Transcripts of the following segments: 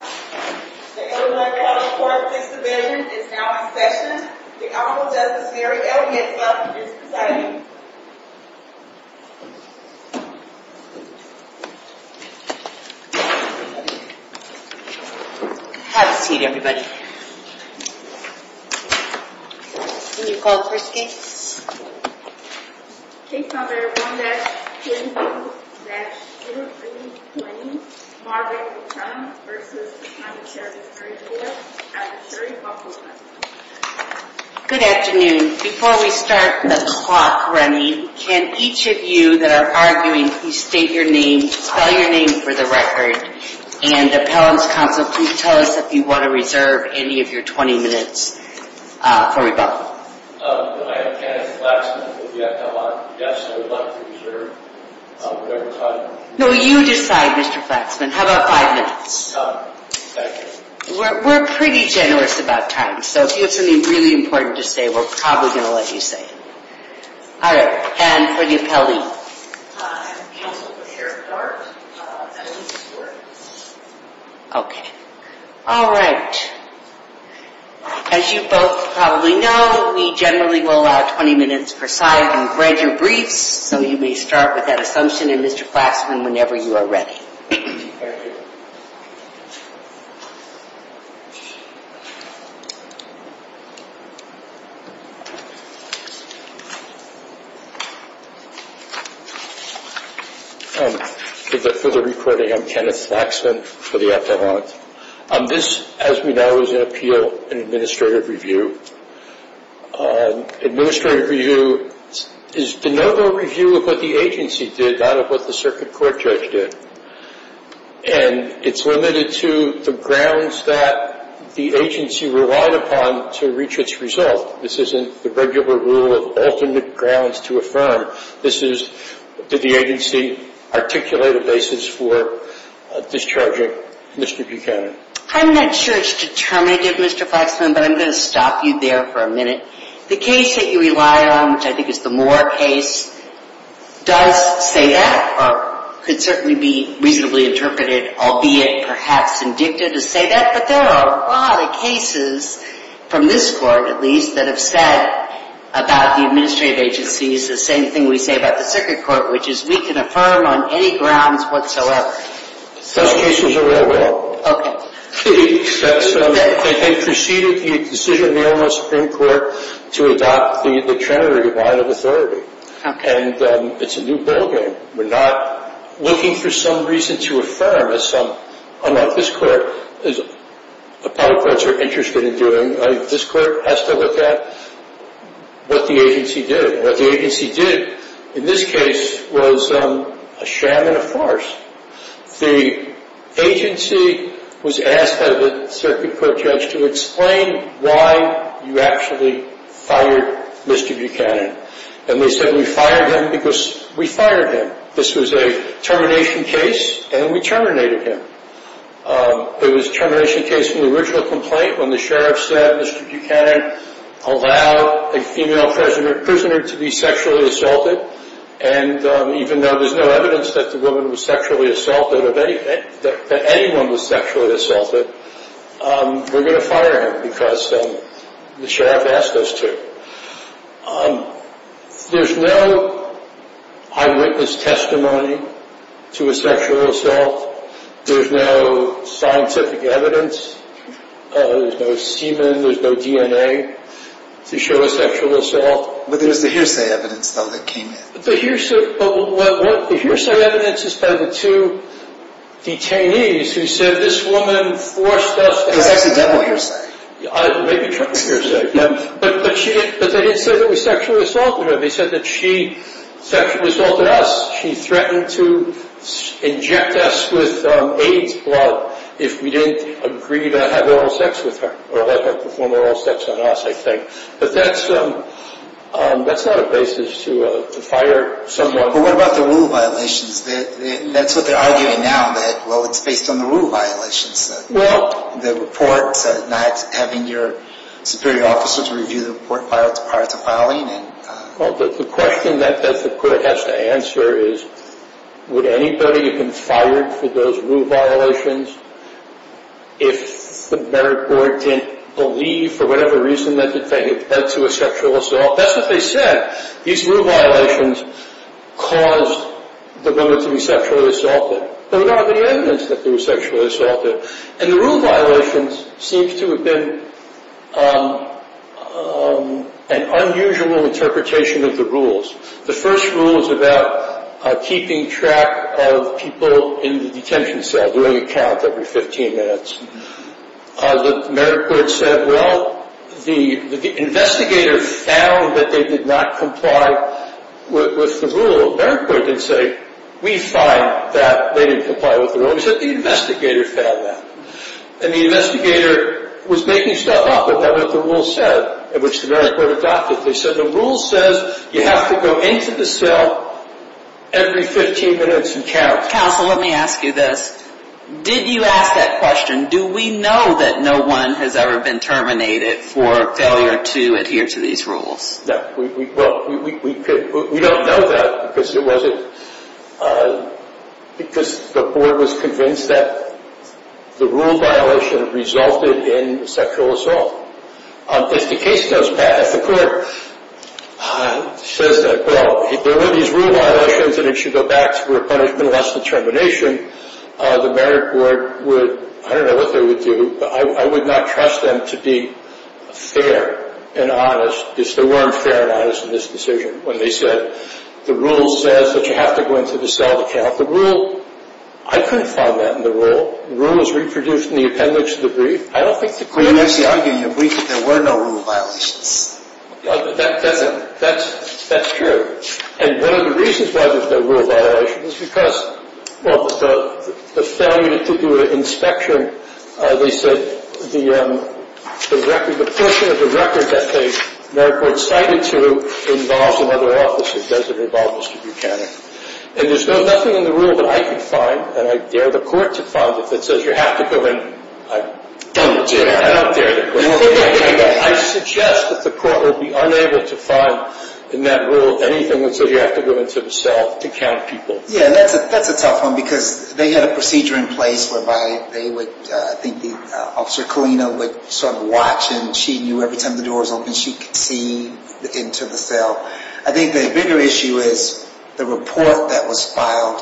The Edelman-Gallup 4th and 6th Divisions is now in session. The Honorable Justice Mary L. Hinslop is presiding. Have a seat, everybody. Can you call the first case? Case number 1-102-2320, Margaret McClellan v. County Sheriff's Attorney, Mary L. Hinslop. Good afternoon. Before we start the clock running, can each of you that are arguing please state your name, spell your name for the record, and Appellant's Counsel, please tell us if you want to reserve any of your 20 minutes for rebuttal. My name is Kenneth Flaxman. Yes, I would like to reserve whatever time. No, you decide, Mr. Flaxman. How about five minutes? Thank you. We're pretty generous about time, so if you have something really important to say, we're probably going to let you say it. All right. And for the Appellee? I'm Counsel for Sheriff Bart Edelman-Gallup. Okay. All right. As you both probably know, we generally will allow 20 minutes per side and read your briefs, so you may start with that assumption, Mr. Flaxman, whenever you are ready. Thank you. For the recording, I'm Kenneth Flaxman for the Appellant. This, as we know, is an appeal and administrative review. Administrative review is the normal review of what the agency did, not of what the circuit court judge did. And it's limited to the grounds that the agency relied upon to reach its result. This isn't the regular rule of alternate grounds to affirm. This is the agency articulated basis for discharging Mr. Buchanan. I'm not sure it's determinative, Mr. Flaxman, but I'm going to stop you there for a minute. The case that you rely on, which I think is the Moore case, does say that, or could certainly be reasonably interpreted, albeit perhaps indicted to say that. But there are a lot of cases from this Court, at least, that have said about the administrative agencies the same thing we say about the circuit court, which is we can affirm on any grounds whatsoever. Those cases are well-read. Okay. They preceded the decision of the Illinois Supreme Court to adopt the trinity line of authority. Okay. And it's a new ballgame. We're not looking for some reason to affirm as some. Unlike this Court, the public courts are interested in doing. This Court has to look at what the agency did. And what the agency did in this case was a sham and a farce. The agency was asked by the circuit court judge to explain why you actually fired Mr. Buchanan. And they said we fired him because we fired him. This was a termination case, and we terminated him. It was a termination case from the original complaint when the sheriff said Mr. Buchanan allowed a female prisoner to be sexually assaulted. And even though there's no evidence that the woman was sexually assaulted, that anyone was sexually assaulted, we're going to fire him because the sheriff asked us to. There's no eyewitness testimony to a sexual assault. There's no scientific evidence. There's no semen. There's no DNA to show a sexual assault. But there's the hearsay evidence, though, that came in. The hearsay evidence is by the two detainees who said this woman forced us. It was actually double hearsay. Maybe triple hearsay. But they didn't say that we sexually assaulted her. They said that she sexually assaulted us. She threatened to inject us with AIDS blood if we didn't agree to have oral sex with her, or let her perform oral sex on us, I think. But that's not a basis to fire someone. But what about the rule violations? That's what they're arguing now, that, well, it's based on the rule violations. The report said not having your superior officer to review the report filed is part of filing. Well, the question that the court has to answer is, would anybody have been fired for those rule violations if the merit board didn't believe, for whatever reason, that they had led to a sexual assault? That's what they said. These rule violations caused the woman to be sexually assaulted. But there's not any evidence that they were sexually assaulted. And the rule violations seem to have been an unusual interpretation of the rules. The first rule is about keeping track of people in the detention cell, doing a count every 15 minutes. The merit board said, well, the investigator found that they did not comply with the rule. The merit board didn't say, we find that they didn't comply with the rule. We said the investigator found that. And the investigator was making stuff up about what the rule said, which the merit board adopted. They said the rule says you have to go into the cell every 15 minutes and count. Counsel, let me ask you this. Did you ask that question, do we know that no one has ever been terminated for failure to adhere to these rules? No. We don't know that because the board was convinced that the rule violation resulted in sexual assault. If the case goes back, if the court says that, well, there were these rule violations and it should go back to punishment and less determination, the merit board would, I don't know what they would do, but I would not trust them to be fair and honest. They weren't fair and honest in this decision when they said the rule says that you have to go into the cell to count. The rule, I couldn't find that in the rule. The rule was reproduced in the appendix of the brief. I don't think the court... You're basically arguing that there were no rule violations. That's true. And one of the reasons why there's no rule violation is because, well, the failure to do an inspection, at least the portion of the record that the merit board cited to involves another officer. It doesn't involve Mr. Buchanan. And there's nothing in the rule that I can find, and I dare the court to find, that says you have to go in. I don't dare. I don't dare. I suggest that the court would be unable to find in that rule anything that says you have to go into the cell to count people. Yeah, that's a tough one because they had a procedure in place whereby they would... I think Officer Colina would sort of watch and she knew every time the door was open she could see into the cell. I think the bigger issue is the report that was filed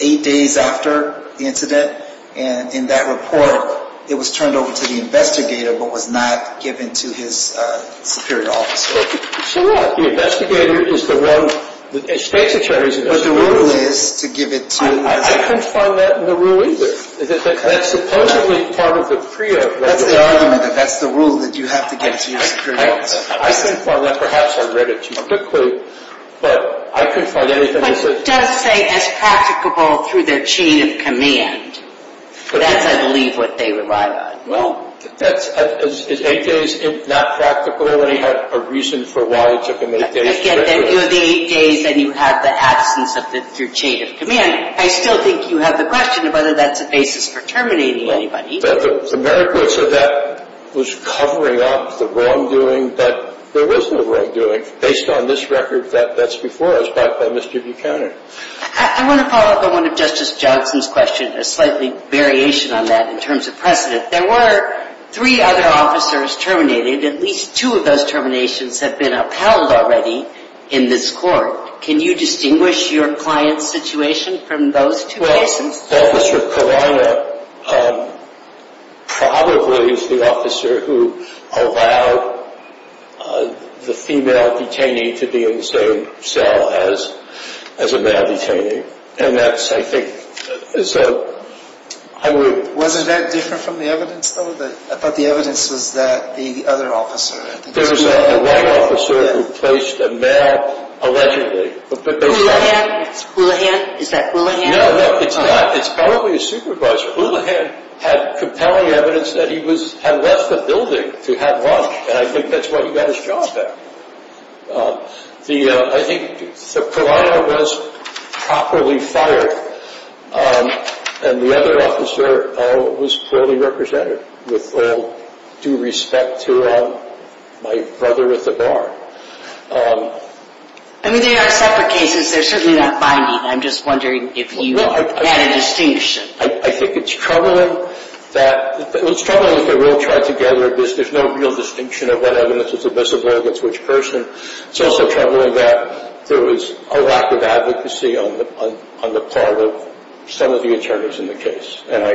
eight days after the incident. And in that report it was turned over to the investigator but was not given to his superior officer. So what? The investigator is the one, the state's attorney is the one... But the rule is to give it to... I couldn't find that in the rule either. That's supposedly part of the PREA. That's the argument. That's the rule that you have to give to your superior officer. I couldn't find that. Perhaps I read it too quickly. But I couldn't find anything that says... But it does say it's practicable through their chain of command. That's, I believe, what they relied on. Well, that's... Is eight days not practical when he had a reason for why it took him eight days? Again, you have the eight days and you have the absence through chain of command. I still think you have the question of whether that's a basis for terminating anybody. The merits of that was covering up the wrongdoing. But there was no wrongdoing based on this record that's before us by Mr. Buchanan. I want to follow up on one of Justice Johnson's questions, a slightly variation on that in terms of precedent. There were three other officers terminated. At least two of those terminations have been upheld already in this court. Can you distinguish your client's situation from those two cases? Well, Officer Caruana probably is the officer who allowed the female detainee to be in the same cell as a male detainee. And that's, I think... Wasn't that different from the evidence, though? I thought the evidence was that the other officer... There was a white officer who placed a male allegedly. Oolahan? Oolahan? Is that Oolahan? No, no, it's not. It's probably a supervisor. Oolahan had compelling evidence that he had left the building to have lunch, and I think that's why he got his job back. I think Caruana was properly fired. And the other officer was poorly represented with all due respect to my brother at the bar. I mean, they are separate cases. They're certainly not binding. I'm just wondering if you had a distinction. I think it's troubling that... It's troubling that they were all tied together. There's no real distinction of what evidence was admissible against which person. It's also troubling that there was a lack of advocacy on the part of some of the attorneys in the case. And I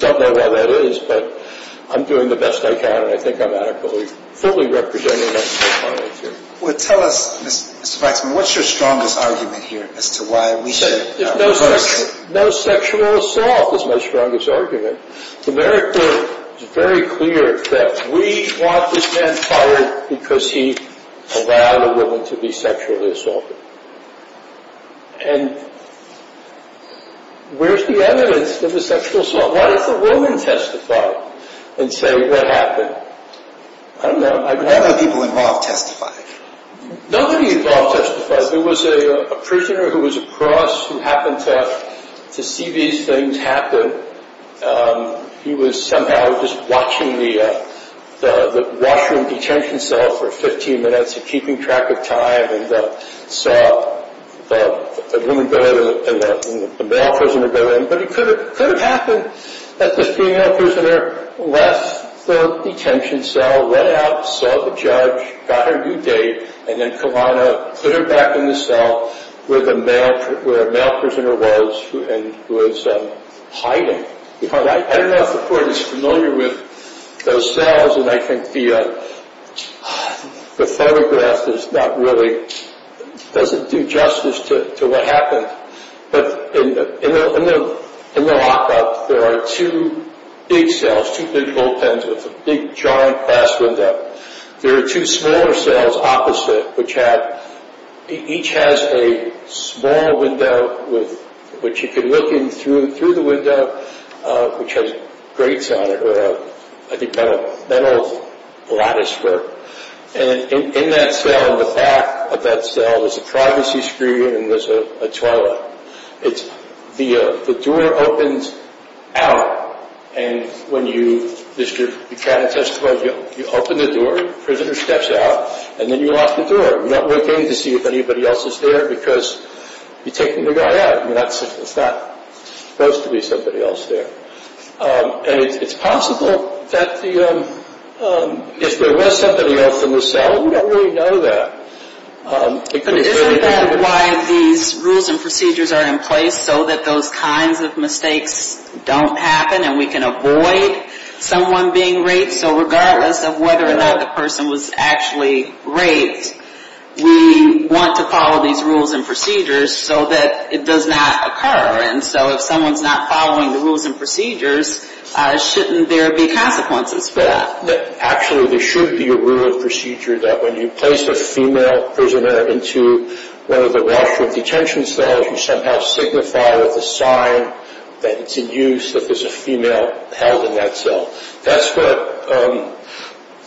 don't know why that is, but I'm doing the best I can, and I think I'm adequately, fully representing myself. Well, tell us, Mr. Weitzman, what's your strongest argument here as to why we should reverse... No sexual assault is my strongest argument. America is very clear that we want this man fired because he allowed a woman to be sexually assaulted. And where's the evidence of a sexual assault? Why does a woman testify and say what happened? I don't know. How many people involved testified? Nobody involved testified. There was a prisoner who was across who happened to see these things happen. He was somehow just watching the washroom detention cell for 15 minutes and keeping track of time and saw the woman go in and the male prisoner go in. But it could have happened that the female prisoner left the detention cell, went out, saw the judge, got her due date, and then put her back in the cell where the male prisoner was and was hiding. I don't know if the court is familiar with those cells, and I think the photograph doesn't do justice to what happened. But in the lockup, there are two big cells, two big bullpens with a big, giant glass window. There are two smaller cells opposite, which each has a small window which you can look in through the window, which has grates on it or a metal latticework. And in that cell, in the back of that cell, there's a privacy screen and there's a toilet. The door opens out, and when you visit your detention cell, you open the door, the prisoner steps out, and then you lock the door. You don't look in to see if anybody else is there because you're taking the guy out. It's not supposed to be somebody else there. And it's possible that if there was somebody else in the cell, we don't really know that. But isn't that why these rules and procedures are in place so that those kinds of mistakes don't happen and we can avoid someone being raped? So regardless of whether or not the person was actually raped, we want to follow these rules and procedures so that it does not occur. And so if someone's not following the rules and procedures, shouldn't there be consequences for that? Actually, there should be a rule and procedure that when you place a female prisoner into one of the Washroom Detention Cells, you somehow signify with a sign that it's in use, that there's a female held in that cell. That's what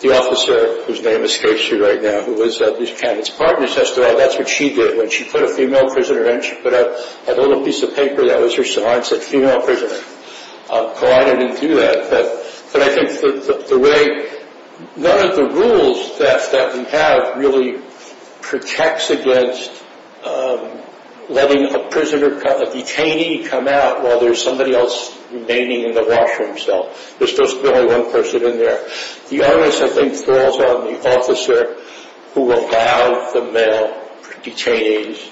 the officer, whose name escapes you right now, who was at these candidates' partners, that's what she did when she put a female prisoner in. She put out a little piece of paper that was her sign that said, but I think the way, one of the rules that we have really protects against letting a prisoner, a detainee come out while there's somebody else remaining in the washroom cell. There's supposed to be only one person in there. The onus, I think, falls on the officer who will allow the male detainees,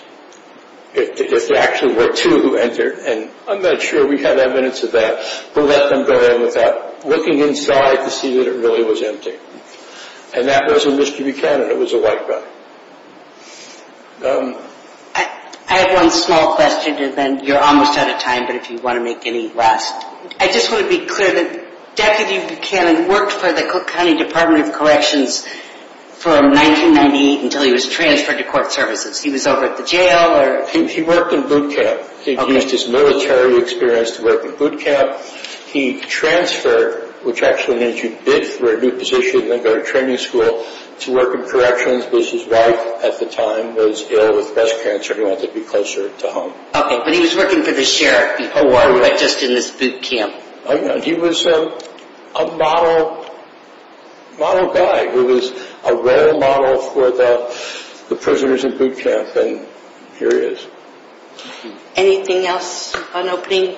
if there actually were two who entered, and I'm not sure we have evidence of that, who let them go in without looking inside to see that it really was empty. And that wasn't Mr. Buchanan, it was a white guy. I have one small question, and then you're almost out of time, but if you want to make any last... I just want to be clear that Deputy Buchanan worked for the Cook County Department of Corrections from 1998 until he was transferred to court services. He was over at the jail or... He worked in boot camp. He used his military experience to work in boot camp. He transferred, which actually means he bid for a new position, then go to training school to work in corrections, because his wife at the time was ill with breast cancer and he wanted to be closer to home. Okay, but he was working for the sheriff before, right just in this boot camp. He was a model guy who was a rare model for the prisoners in boot camp, and here he is. Anything else on opening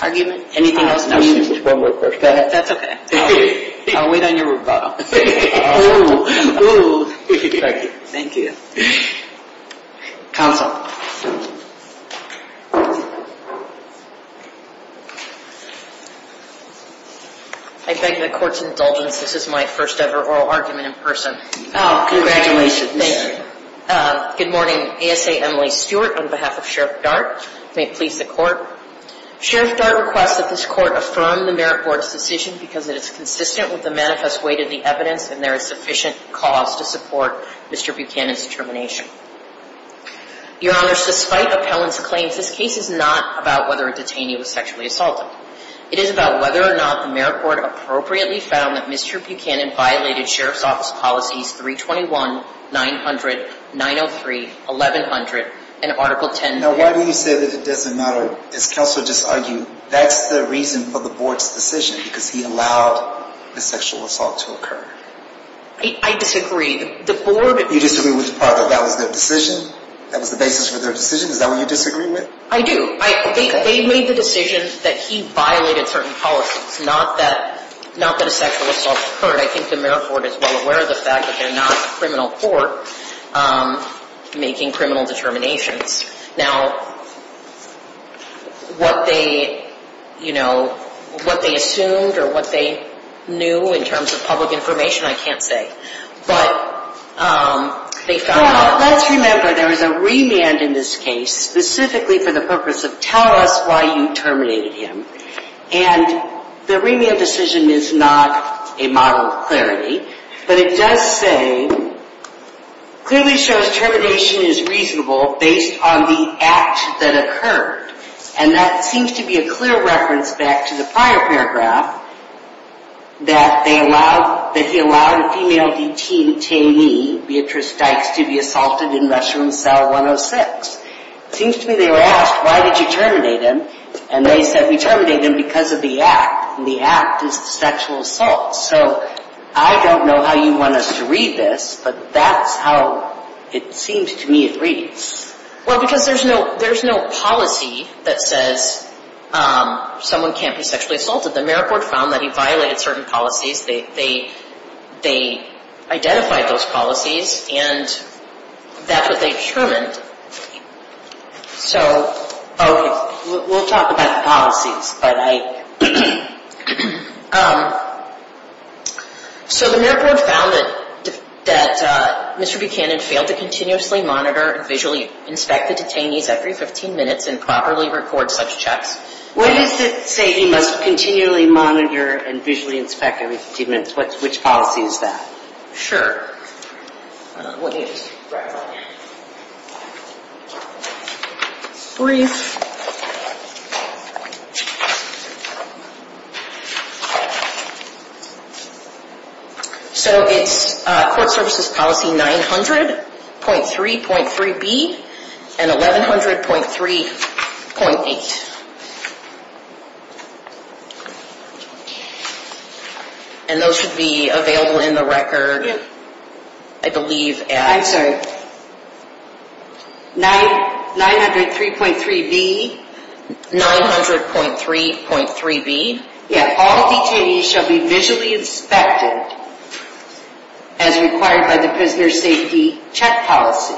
argument? Anything else? One more question. That's okay. I'll wait on your rebuttal. Thank you. Thank you. Counsel. I beg the court's indulgence. This is my first ever oral argument in person. Congratulations. Thank you. Good morning. ASA Emily Stewart on behalf of Sheriff Dart. May it please the court. Sheriff Dart requests that this court affirm the merit board's decision because it is consistent with the manifest way to the evidence and there is sufficient cause to support Mr. Buchanan's determination. Your honors, despite appellant's claims, this case is not about whether a detainee was sexually assaulted. It is about whether or not the merit board appropriately found that Mr. Buchanan violated Sheriff's Office Policies 321, 900, 903, 1100, and Article 10. Now, why do you say that it doesn't matter? As counsel just argued, that's the reason for the board's decision because he allowed the sexual assault to occur. I disagree. You disagree with the part that that was their decision? That was the basis for their decision? Is that what you disagree with? I do. They made the decision that he violated certain policies, not that a sexual assault occurred. I think the merit board is well aware of the fact that they're not a criminal court making criminal determinations. Now, what they assumed or what they knew in terms of public information, I can't say. But they found out. Now, let's remember there is a remand in this case specifically for the purpose of tell us why you terminated him. And the remand decision is not a model of clarity. But it does say, clearly shows termination is reasonable based on the act that occurred. And that seems to be a clear reference back to the prior paragraph that they allowed, that he allowed a female detainee, Beatrice Dykes, to be assaulted in restroom cell 106. It seems to me they were asked, why did you terminate him? And they said, we terminate him because of the act. And the act is the sexual assault. So I don't know how you want us to read this, but that's how it seems to me it reads. Well, because there's no policy that says someone can't be sexually assaulted. The merit board found that he violated certain policies. They identified those policies. And that's what they determined. So, okay, we'll talk about the policies. But I, so the merit board found that Mr. Buchanan failed to continuously monitor and visually inspect the detainees every 15 minutes and properly record such checks. What does it say he must continually monitor and visually inspect every 15 minutes? Which policy is that? Sure. Brief. So it's court services policy 900.3.3B and 1100.3.8. And those should be available in the record, I believe. I'm sorry. 900.3.3B. 900.3.3B. Yeah. All detainees shall be visually inspected as required by the prisoner safety check policy.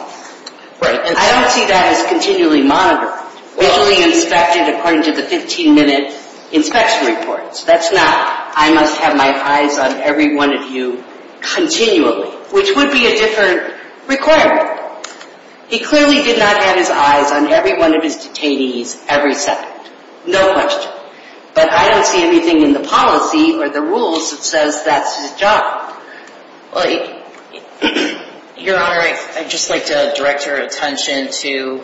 Right. And I don't see that as continually monitored. Visually inspected according to the 15-minute inspection reports. That's not, I must have my eyes on every one of you continually, which would be a different requirement. He clearly did not have his eyes on every one of his detainees every second. No question. But I don't see anything in the policy or the rules that says that's his job. Your Honor, I'd just like to direct your attention to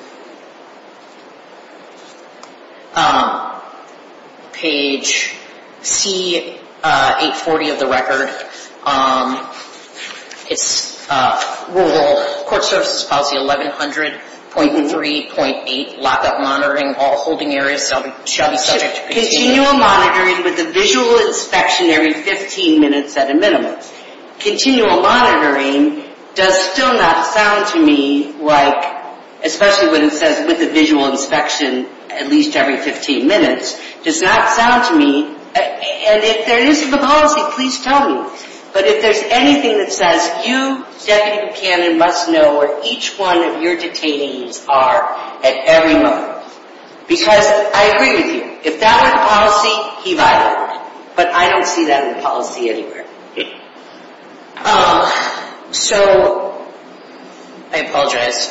page C840 of the record. It's rule, court services policy 1100.3.8, lockup monitoring, all holding areas shall be subject to... Continual monitoring with a visual inspection every 15 minutes at a minimum. Continual monitoring does still not sound to me like, especially when it says with a visual inspection at least every 15 minutes, does not sound to me. And if there is a policy, please tell me. But if there's anything that says you, Deputy Buchanan, must know where each one of your detainees are at every moment. Because I agree with you. If that were the policy, he violated it. But I don't see that in the policy anywhere. So, I apologize.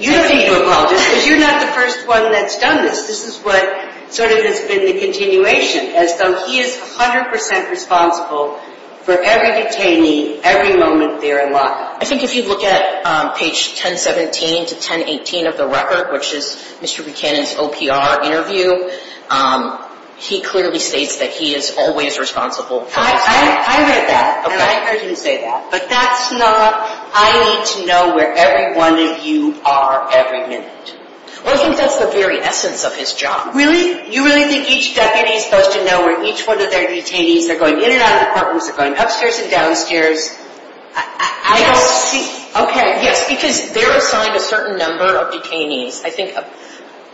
You don't need to apologize because you're not the first one that's done this. This is what sort of has been the continuation as though he is 100% responsible for every detainee every moment they're in lockup. I think if you look at page 1017 to 1018 of the record, which is Mr. Buchanan's OPR interview, he clearly states that he is always responsible. I read that. Okay. And I heard him say that. But that's not, I need to know where every one of you are every minute. Well, I think that's the very essence of his job. Really? You really think each deputy is supposed to know where each one of their detainees, they're going in and out of the apartments, they're going upstairs and downstairs. I don't see. Okay. Yes, because they're assigned a certain number of detainees. I think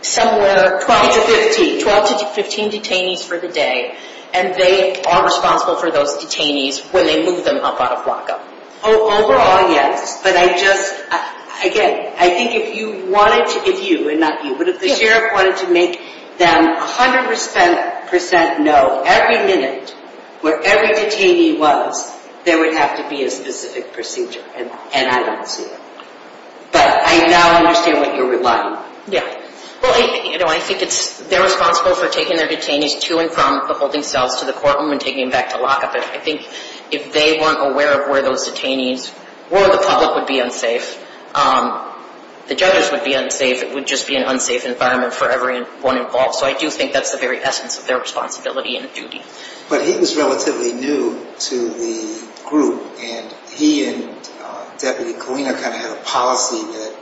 somewhere 12 to 15. 12 to 15 detainees for the day. And they are responsible for those detainees when they move them up out of lockup. Overall, yes. But I just, again, I think if you wanted to, if you and not you, but if the sheriff wanted to make them 100% know every minute where every detainee was, there would have to be a specific procedure. And I don't see it. But I now understand what you're relying on. Yeah. Well, you know, I think it's, they're responsible for taking their detainees to and from the holding cells to the courtroom and taking them back to lockup. And I think if they weren't aware of where those detainees were, the public would be unsafe. The judges would be unsafe. It would just be an unsafe environment for everyone involved. So I do think that's the very essence of their responsibility and duty. But he was relatively new to the group, and he and Deputy Colina kind of had a policy that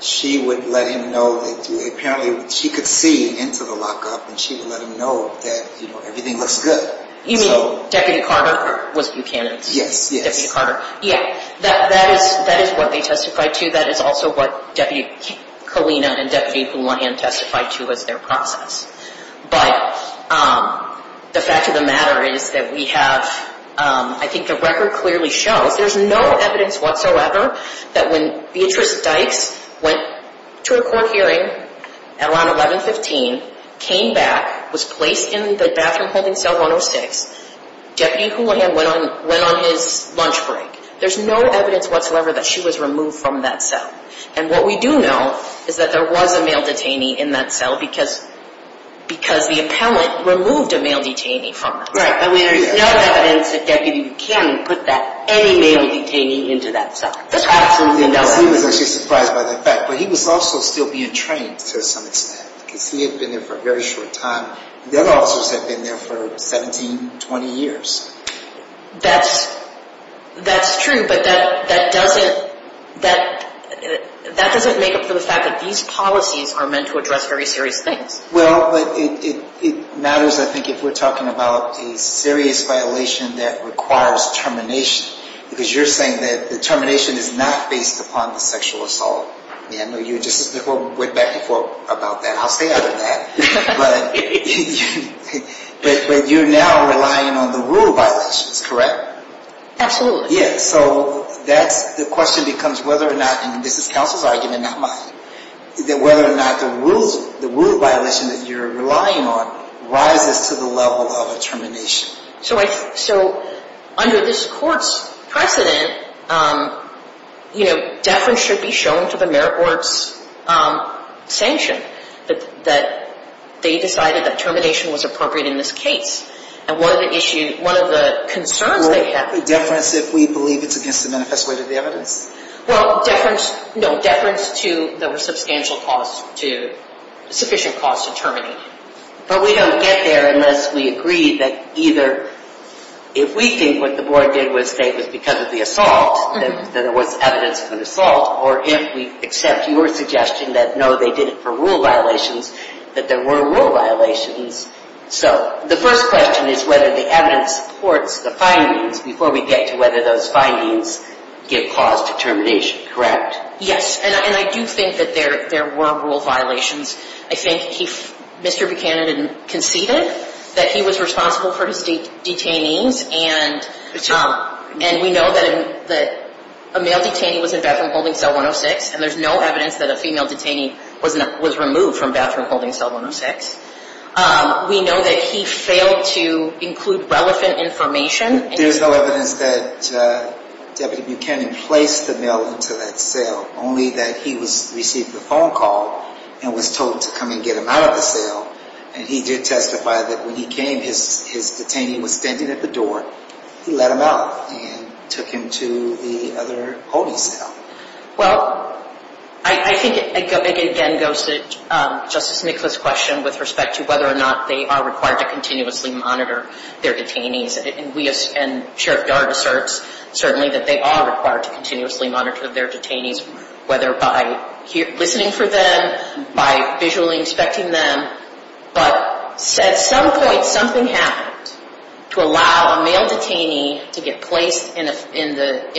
she would let him know that apparently she could see into the lockup, and she would let him know that, you know, everything looks good. You mean Deputy Carter was a new candidate? Yes, yes. Deputy Carter. Yeah. That is what they testified to. That is also what Deputy Colina and Deputy Fulonian testified to as their process. But the fact of the matter is that we have, I think the record clearly shows there's no evidence whatsoever that when Beatrice Dykes went to a court hearing at around 1115, came back, was placed in the bathroom holding cell 106, Deputy Colina went on his lunch break. There's no evidence whatsoever that she was removed from that cell. And what we do know is that there was a male detainee in that cell because the appellant removed a male detainee from that cell. Right. I mean, there's no evidence that Deputy Buchanan put any male detainee into that cell. That's absolutely no evidence. He was actually surprised by that fact. But he was also still being trained to some extent because he had been there for a very short time. The other officers had been there for 17, 20 years. That's true, but that doesn't make up for the fact that these policies are meant to address very serious things. Well, but it matters, I think, if we're talking about a serious violation that requires termination. Because you're saying that the termination is not based upon the sexual assault. I know you just went back and forth about that. I'll stay out of that. But you're now relying on the rule violations, correct? Absolutely. Yeah, so that's the question becomes whether or not, and this is counsel's argument, not mine, that whether or not the rule violation that you're relying on rises to the level of a termination. So under this court's precedent, you know, deference should be shown to the merit court's sanction, that they decided that termination was appropriate in this case. And one of the issues, one of the concerns they have... Well, what's the deference if we believe it's against the manifest way to the evidence? Well, deference, no, deference to the substantial cost to, sufficient cost to terminating. But we don't get there unless we agree that either, if we think what the board did was because of the assault, that there was evidence of an assault, or if we accept your suggestion that, no, they did it for rule violations, that there were rule violations. So the first question is whether the evidence supports the findings before we get to whether those findings give cause to termination, correct? Yes, and I do think that there were rule violations. I think Mr. Buchanan conceded that he was responsible for his detainees, and we know that a male detainee was in bathroom holding cell 106, and there's no evidence that a female detainee was removed from bathroom holding cell 106. We know that he failed to include relevant information. There's no evidence that Deputy Buchanan placed the male into that cell, only that he received a phone call and was told to come and get him out of the cell, and he did testify that when he came, his detainee was standing at the door. He let him out and took him to the other holding cell. Well, I think it again goes to Justice Nichols' question with respect to whether or not they are required to continuously monitor their detainees, and we as, and Sheriff Yard asserts certainly that they are required to continuously monitor their detainees, whether by listening for them, by visually inspecting them, but at some point something happened to allow a male detainee to get placed in bathroom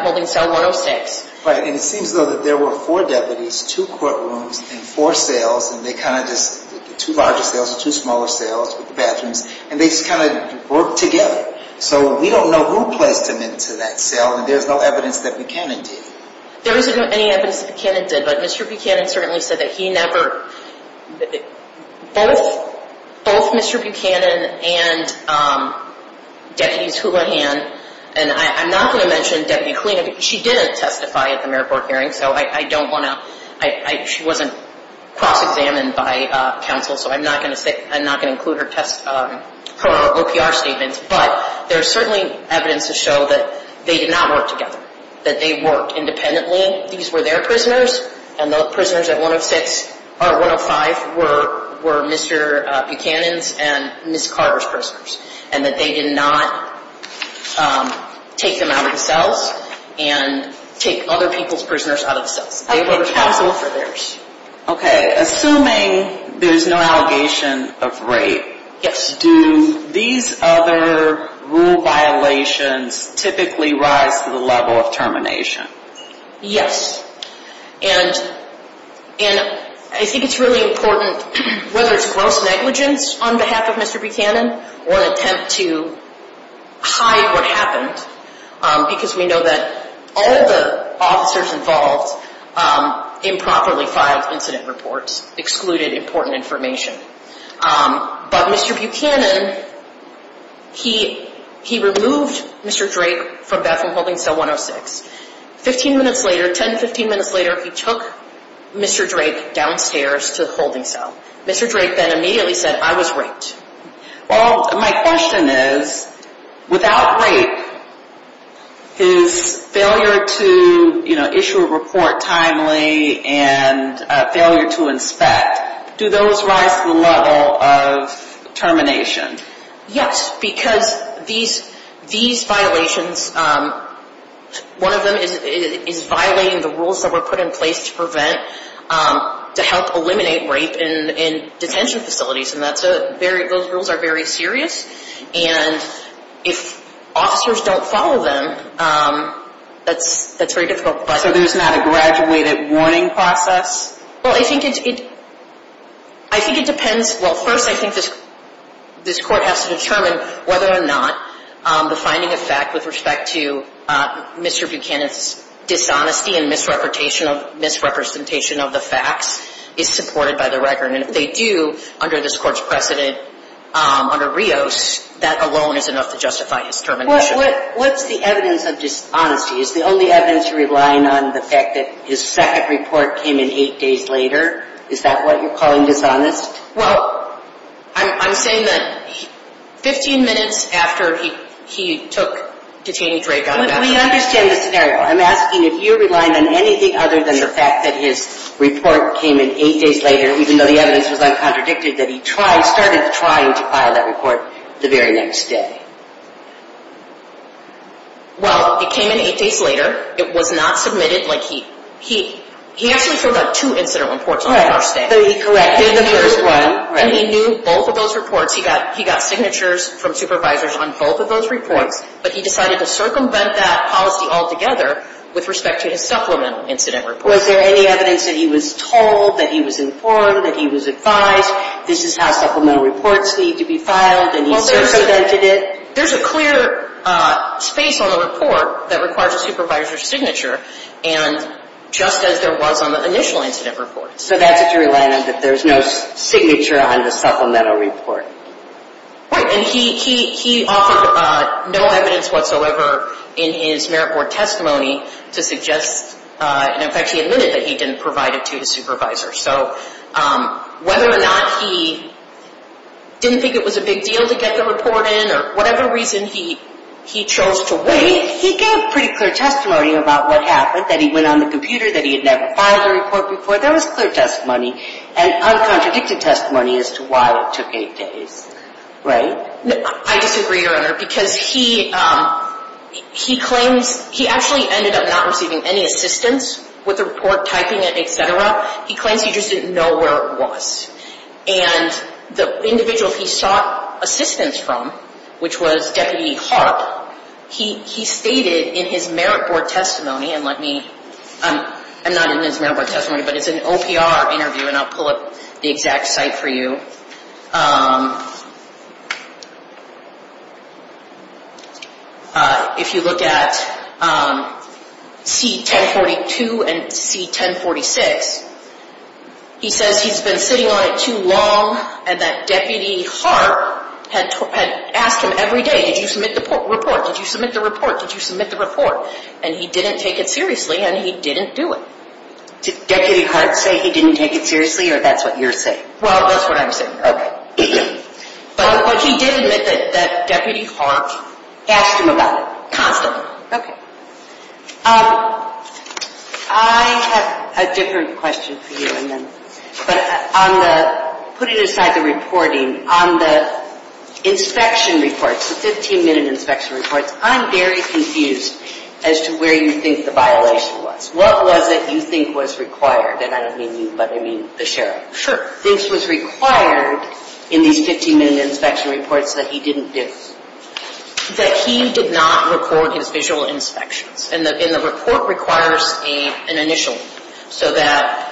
holding cell 106. Right, and it seems though that there were four deputies, two courtrooms, and four cells, and they kind of just, two larger cells and two smaller cells with the bathrooms, and they just kind of worked together. So we don't know who placed him into that cell, and there's no evidence that Buchanan did. There isn't any evidence that Buchanan did, but Mr. Buchanan certainly said that he never, both Mr. Buchanan and Deputies Houlihan, and I'm not going to mention Deputy Kulina, because she didn't testify at the Maribor hearing, so I don't want to, she wasn't cross-examined by counsel, so I'm not going to include her OPR statements, but there's certainly evidence to show that they did not work together, that they worked independently. These were their prisoners, and the prisoners at 105 were Mr. Buchanan's and Ms. Carter's prisoners, and that they did not take them out of the cells and take other people's prisoners out of the cells. They were counsel for theirs. Okay, assuming there's no allegation of rape, do these other rule violations typically rise to the level of termination? Yes, and I think it's really important, whether it's gross negligence on behalf of Mr. Buchanan or an attempt to hide what happened, because we know that all the officers involved improperly filed incident reports, excluded important information, but Mr. Buchanan, he removed Mr. Drake from Bethel Holding Cell 106. Fifteen minutes later, ten, fifteen minutes later, he took Mr. Drake downstairs to the holding cell. Mr. Drake then immediately said, I was raped. Well, my question is, without rape, his failure to issue a report timely and failure to inspect, do those rise to the level of termination? Yes, because these violations, one of them is violating the rules that were put in place to prevent, to help eliminate rape in detention facilities, and those rules are very serious, and if officers don't follow them, that's a very difficult question. So there's not a graduated warning process? Well, I think it depends. Well, first, I think this Court has to determine whether or not the finding of fact with respect to Mr. Buchanan's dishonesty and misrepresentation of the facts is supported by the record, and if they do, under this Court's precedent, under Rios, that alone is enough to justify his termination. What's the evidence of dishonesty? Is the only evidence you're relying on the fact that his second report came in eight days later? Is that what you're calling dishonest? Well, I'm saying that 15 minutes after he took detainee Drake out of Bethel. We understand the scenario. I'm asking if you're relying on anything other than the fact that his report came in eight days later, even though the evidence was uncontradicted, that he started trying to file that report the very next day. Well, it came in eight days later. It was not submitted. He actually filled out two incident reports on the first day. So he corrected the first one. And he knew both of those reports. He got signatures from supervisors on both of those reports, but he decided to circumvent that policy altogether with respect to his supplemental incident report. Was there any evidence that he was told, that he was informed, that he was advised, this is how supplemental reports need to be filed, and he circumvented it? There's a clear space on the report that requires a supervisor's signature, and just as there was on the initial incident report. So that's what you're relying on, that there's no signature on the supplemental report. Right. And he offered no evidence whatsoever in his merit board testimony to suggest, and in fact he admitted that he didn't provide it to his supervisor. So whether or not he didn't think it was a big deal to get the report in or whatever reason he chose to wait, he gave pretty clear testimony about what happened, that he went on the computer, that he had never filed a report before. There was clear testimony and uncontradicted testimony as to why it took eight days. Right? I disagree, Your Honor, because he claims he actually ended up not receiving any assistance with the report typing and et cetera. He claims he just didn't know where it was. And the individual he sought assistance from, which was Deputy Harp, he stated in his merit board testimony, and let me, I'm not in his merit board testimony, but it's an OPR interview and I'll pull up the exact site for you. If you look at C1042 and C1046, he says he's been sitting on it too long and that Deputy Harp had asked him every day, did you submit the report? Did you submit the report? Did you submit the report? And he didn't take it seriously and he didn't do it. Did Deputy Harp say he didn't take it seriously or that's what you're saying? Well, that's what I'm saying. Okay. But he did admit that Deputy Harp asked him about it constantly. Okay. I have a different question for you, but on the, putting aside the reporting, on the inspection reports, the 15-minute inspection reports, I'm very confused as to where you think the violation was. What was it you think was required? And I didn't mean you, but I mean the sheriff. Sure. Things was required in these 15-minute inspection reports that he didn't do. That he did not record his visual inspections. And the report requires an initial. So that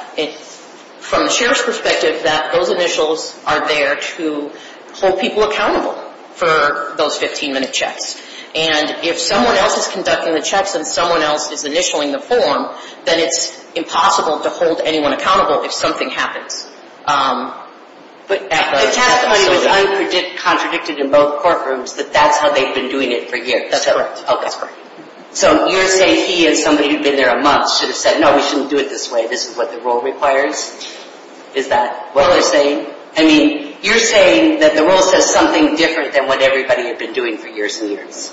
from the sheriff's perspective, that those initials are there to hold people accountable for those 15-minute checks. And if someone else is conducting the checks and someone else is initialing the form, then it's impossible to hold anyone accountable if something happens. But the testimony was contradicted in both courtrooms that that's how they've been doing it for years. That's correct. Okay. So you're saying he and somebody who'd been there a month should have said, no, we shouldn't do it this way. This is what the rule requires? Is that what they're saying? I mean, you're saying that the rule says something different than what everybody had been doing for years and years.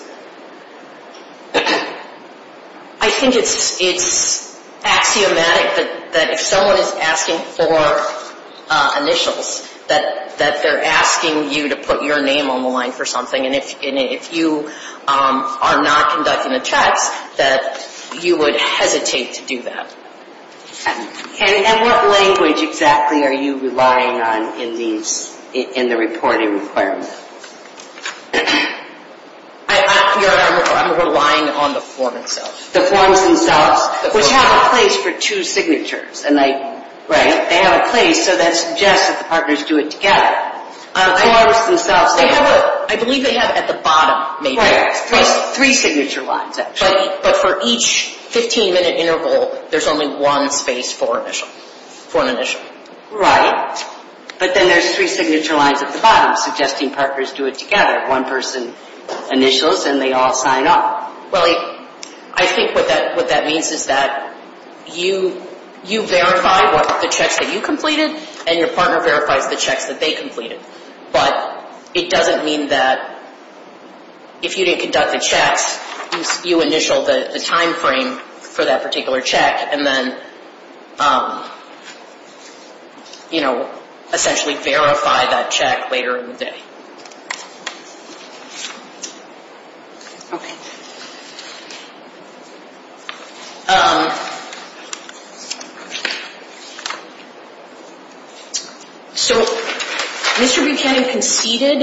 I think it's axiomatic that if someone is asking for initials, that they're asking you to put your name on the line for something. And if you are not conducting the checks, that you would hesitate to do that. And what language exactly are you relying on in the reporting requirement? I'm relying on the forms themselves. The forms themselves, which have a place for two signatures. Right. They have a place, so that suggests that the partners do it together. I believe they have at the bottom, maybe, three signature lines. But for each 15-minute interval, there's only one space for an initial. Right. But then there's three signature lines at the bottom, suggesting partners do it together, one-person initials, and they all sign up. Well, I think what that means is that you verify the checks that you completed, and your partner verifies the checks that they completed. You initial the timeframe for that particular check, and then, you know, essentially verify that check later in the day. Okay. So Mr. Buchanan conceded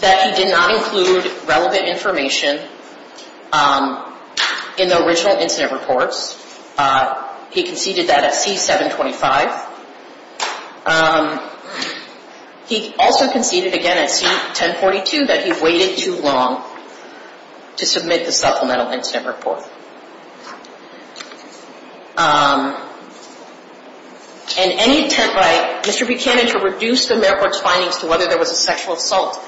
that he did not include relevant information in the original incident reports. He conceded that at C-725. He also conceded, again, at C-1042, that he waited too long to submit the supplemental incident report. And any attempt by Mr. Buchanan to reduce the Mayor's Court's findings to whether there was a sexual assault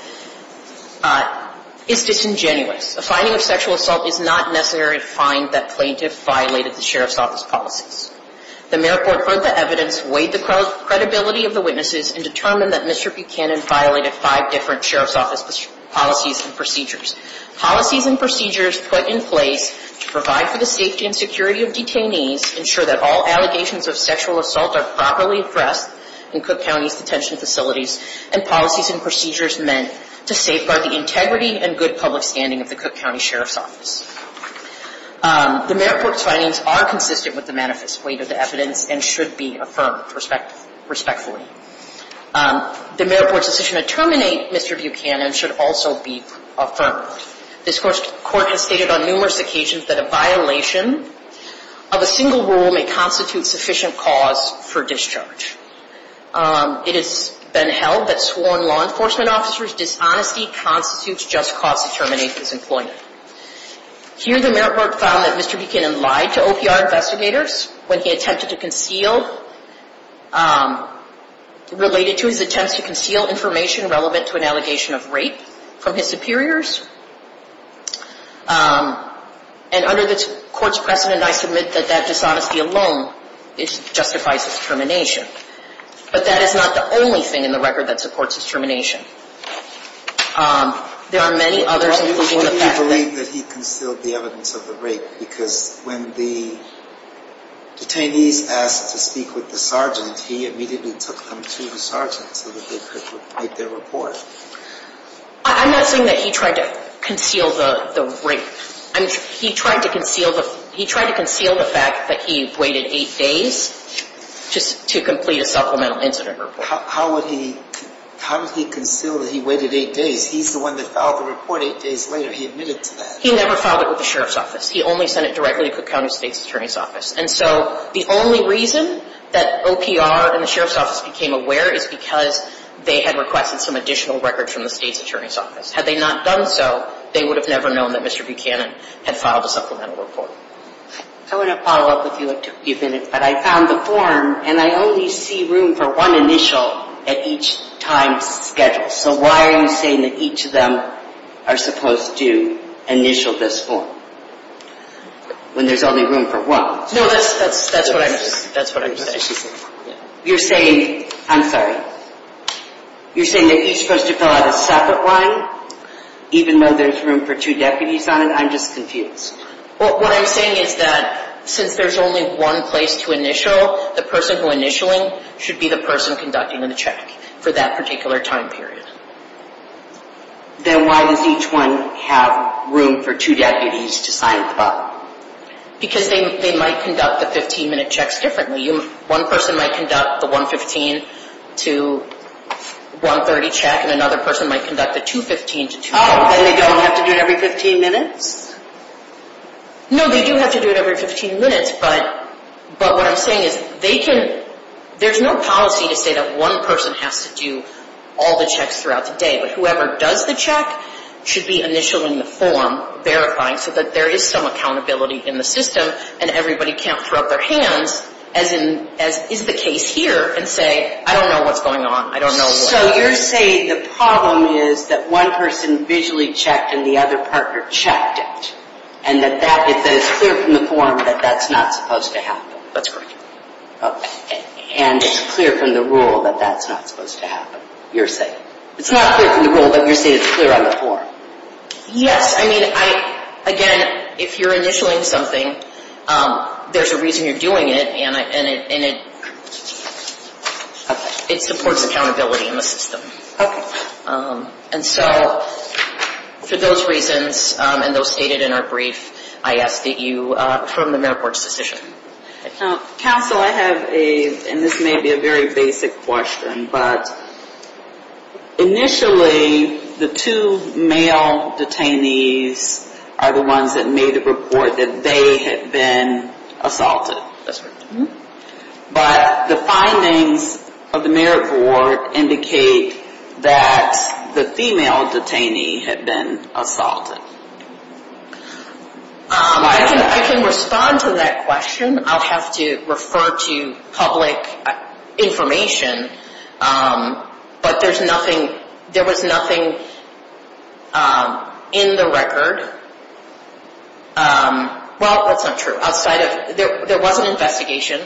is disingenuous. A finding of sexual assault is not necessary to find that plaintiff violated the Sheriff's Office policies. The Mayor's Court heard the evidence, weighed the credibility of the witnesses, and determined that Mr. Buchanan violated five different Sheriff's Office policies and procedures. Policies and procedures put in place to provide for the safety and security of detainees ensure that all allegations of sexual assault are properly addressed in Cook County's detention facilities, and policies and procedures meant to safeguard the integrity and good public standing of the Cook County Sheriff's Office. The Mayor's Court's findings are consistent with the manifest weight of the evidence and should be affirmed respectfully. The Mayor's Court's decision to terminate Mr. Buchanan should also be affirmed. This Court has stated on numerous occasions that a violation of a single rule may constitute sufficient cause for discharge. It has been held that sworn law enforcement officers' dishonesty constitutes just cause to terminate this employee. Here, the Mayor's Court found that Mr. Buchanan lied to OPR investigators when he attempted to conceal, related to his attempts to conceal information relevant to an allegation of rape from his superiors. And under this Court's precedent, I submit that that dishonesty alone justifies his termination. But that is not the only thing in the record that supports his termination. There are many others... Why do you believe that he concealed the evidence of the rape? Because when the detainees asked to speak with the sergeant, he immediately took them to the sergeant so that they could make their report. I'm not saying that he tried to conceal the rape. He tried to conceal the fact that he waited eight days just to complete a supplemental incident report. How would he conceal that he waited eight days? He's the one that filed the report eight days later. He admitted to that. He never filed it with the Sheriff's Office. He only sent it directly to Cook County State's Attorney's Office. And so the only reason that OPR and the Sheriff's Office became aware is because they had requested some additional records from the State's Attorney's Office. Had they not done so, they would have never known that Mr. Buchanan had filed a supplemental report. I want to follow up with you if you have two minutes. But I found the form, and I only see room for one initial at each time schedule. So why are you saying that each of them are supposed to initial this form when there's only room for one? No, that's what I'm saying. You're saying that he's supposed to fill out a separate one even though there's room for two deputies on it? I'm just confused. What I'm saying is that since there's only one place to initial, the person who's initialing should be the person conducting the check for that particular time period. Then why does each one have room for two deputies to sign the form? Because they might conduct the 15-minute checks differently. One person might conduct the 115 to 130 check, and another person might conduct the 215 to 250 check. Then they don't have to do it every 15 minutes? No, they do have to do it every 15 minutes, but what I'm saying is there's no policy to say that one person has to do all the checks throughout the day. But whoever does the check should be initialing the form, verifying so that there is some accountability in the system and everybody can't throw up their hands, as is the case here, and say, I don't know what's going on. So you're saying the problem is that one person visually checked and the other partner checked it, and that it's clear from the form that that's not supposed to happen? That's correct. Okay. And it's clear from the rule that that's not supposed to happen, you're saying? It's not clear from the rule, but you're saying it's clear on the form? Yes. I mean, again, if you're initialing something, there's a reason you're doing it, and it supports accountability in the system. Okay. And so for those reasons and those stated in our brief, I ask that you affirm the mayor's board's decision. Counsel, I have a, and this may be a very basic question, but initially the two male detainees are the ones that made a report that they had been assaulted. That's right. But the findings of the mayor's board indicate that the female detainee had been assaulted. I can respond to that question. I'll have to refer to public information, but there was nothing in the record. Well, that's not true. There was an investigation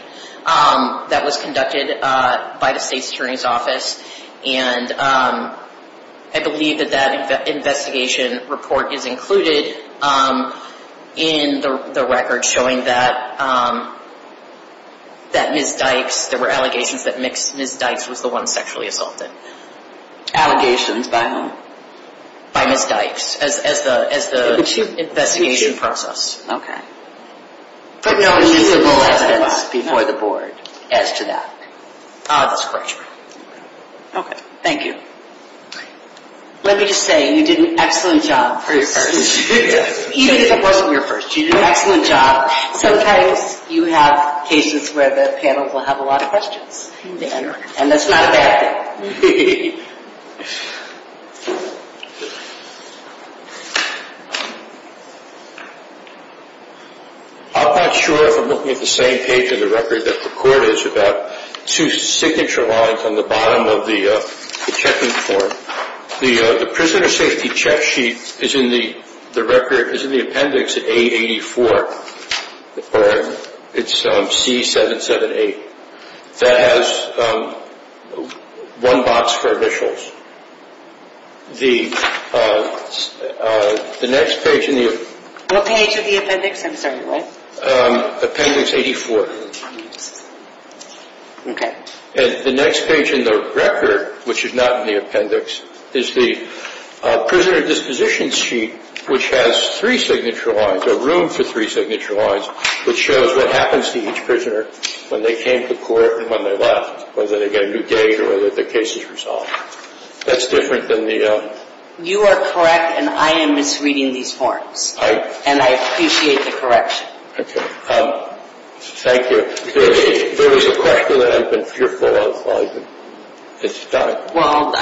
that was conducted by the state's attorney's office, and I believe that that investigation report is included in the record showing that Ms. Dykes, there were allegations that Ms. Dykes was the one sexually assaulted. Allegations by whom? By Ms. Dykes as the investigation process. Okay. There were no visible evidence before the board as to that. That's correct. Okay. Thank you. Let me just say, you did an excellent job for your first. Even if it wasn't your first, you did an excellent job. Sometimes you have cases where the panel will have a lot of questions, and that's not a bad thing. I'm not sure if I'm looking at the same page in the record that the court is about two signature lines on the bottom of the checking form. The prisoner safety check sheet is in the appendix at A84, or it's C778. That has one box for initials. The next page in the appendix. What page of the appendix? I'm sorry, what? Appendix 84. Okay. The next page in the record, which is not in the appendix, is the prisoner disposition sheet, which has three signature lines, or room for three signature lines, which shows what happens to each prisoner when they came to court and when they left, whether they get a new date or whether the case is resolved. That's different than the other. You are correct, and I am misreading these forms, and I appreciate the correction. Okay. Thank you. There is a question that I've been fearful of. It's time. Well,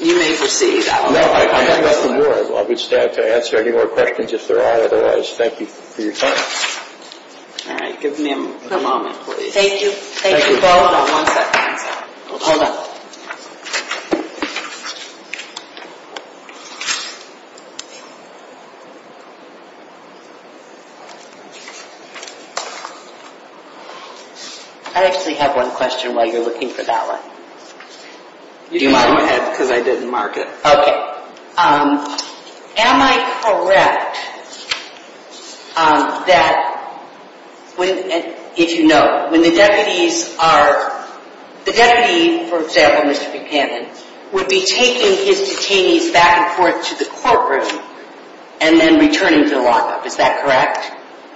you may proceed. No, I have nothing more. I would still have to answer any more questions if there are. Otherwise, thank you for your time. All right. Give me a moment, please. Thank you. Thank you. Hold on one second. Hold on. I actually have one question while you're looking for that one. Do you mind? Go ahead, because I didn't mark it. Okay. Am I correct that, if you know, when the deputies are – the deputy, for example, Mr. Buchanan, would be taking his detainees back and forth to the courtroom and then returning to the lockup. Is that correct?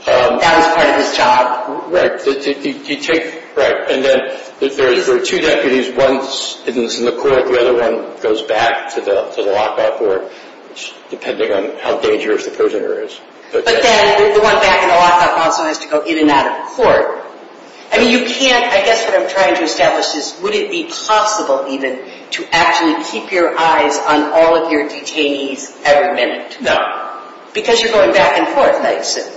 That was part of his job? Right. You take – right. And then there are two deputies. One is in the court. The other one goes back to the lockup or – depending on how dangerous the prisoner is. But then the one back in the lockup also has to go in and out of court. I mean, you can't – I guess what I'm trying to establish is, would it be possible even to actually keep your eyes on all of your detainees every minute? No. Because you're going back and forth.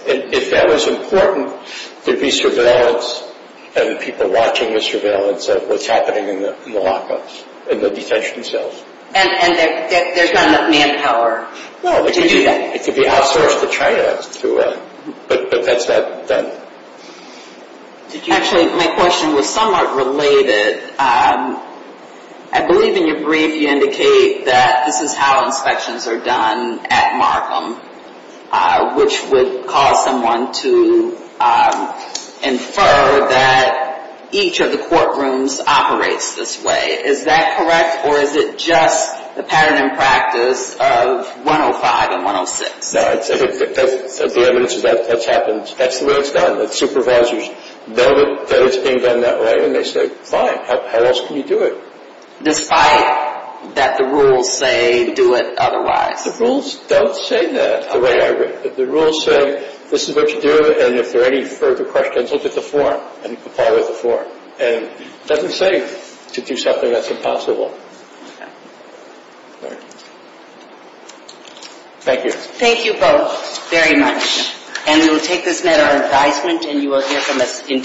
If that was important, there'd be surveillance and people watching the surveillance of what's happening in the lockup, in the detention cells. And there's not enough manpower to do that? No. It could be outsourced to China to – but that's not done. Actually, my question was somewhat related. I believe in your brief you indicate that this is how inspections are done at Markham, which would cause someone to infer that each of the courtrooms operates this way. Is that correct? Or is it just the pattern in practice of 105 and 106? No. The evidence is that that's happened. That's the way it's done. The supervisors know that it's being done that way, and they say, fine. How else can you do it? Despite that the rules say do it otherwise? The rules don't say that. The rules say this is what you do, and if there are any further questions, look at the form and comply with the form. And it doesn't say to do something that's impossible. Okay. All right. Thank you. Thank you both very much. And we will take this matter on advisement, and you will hear from us in due course.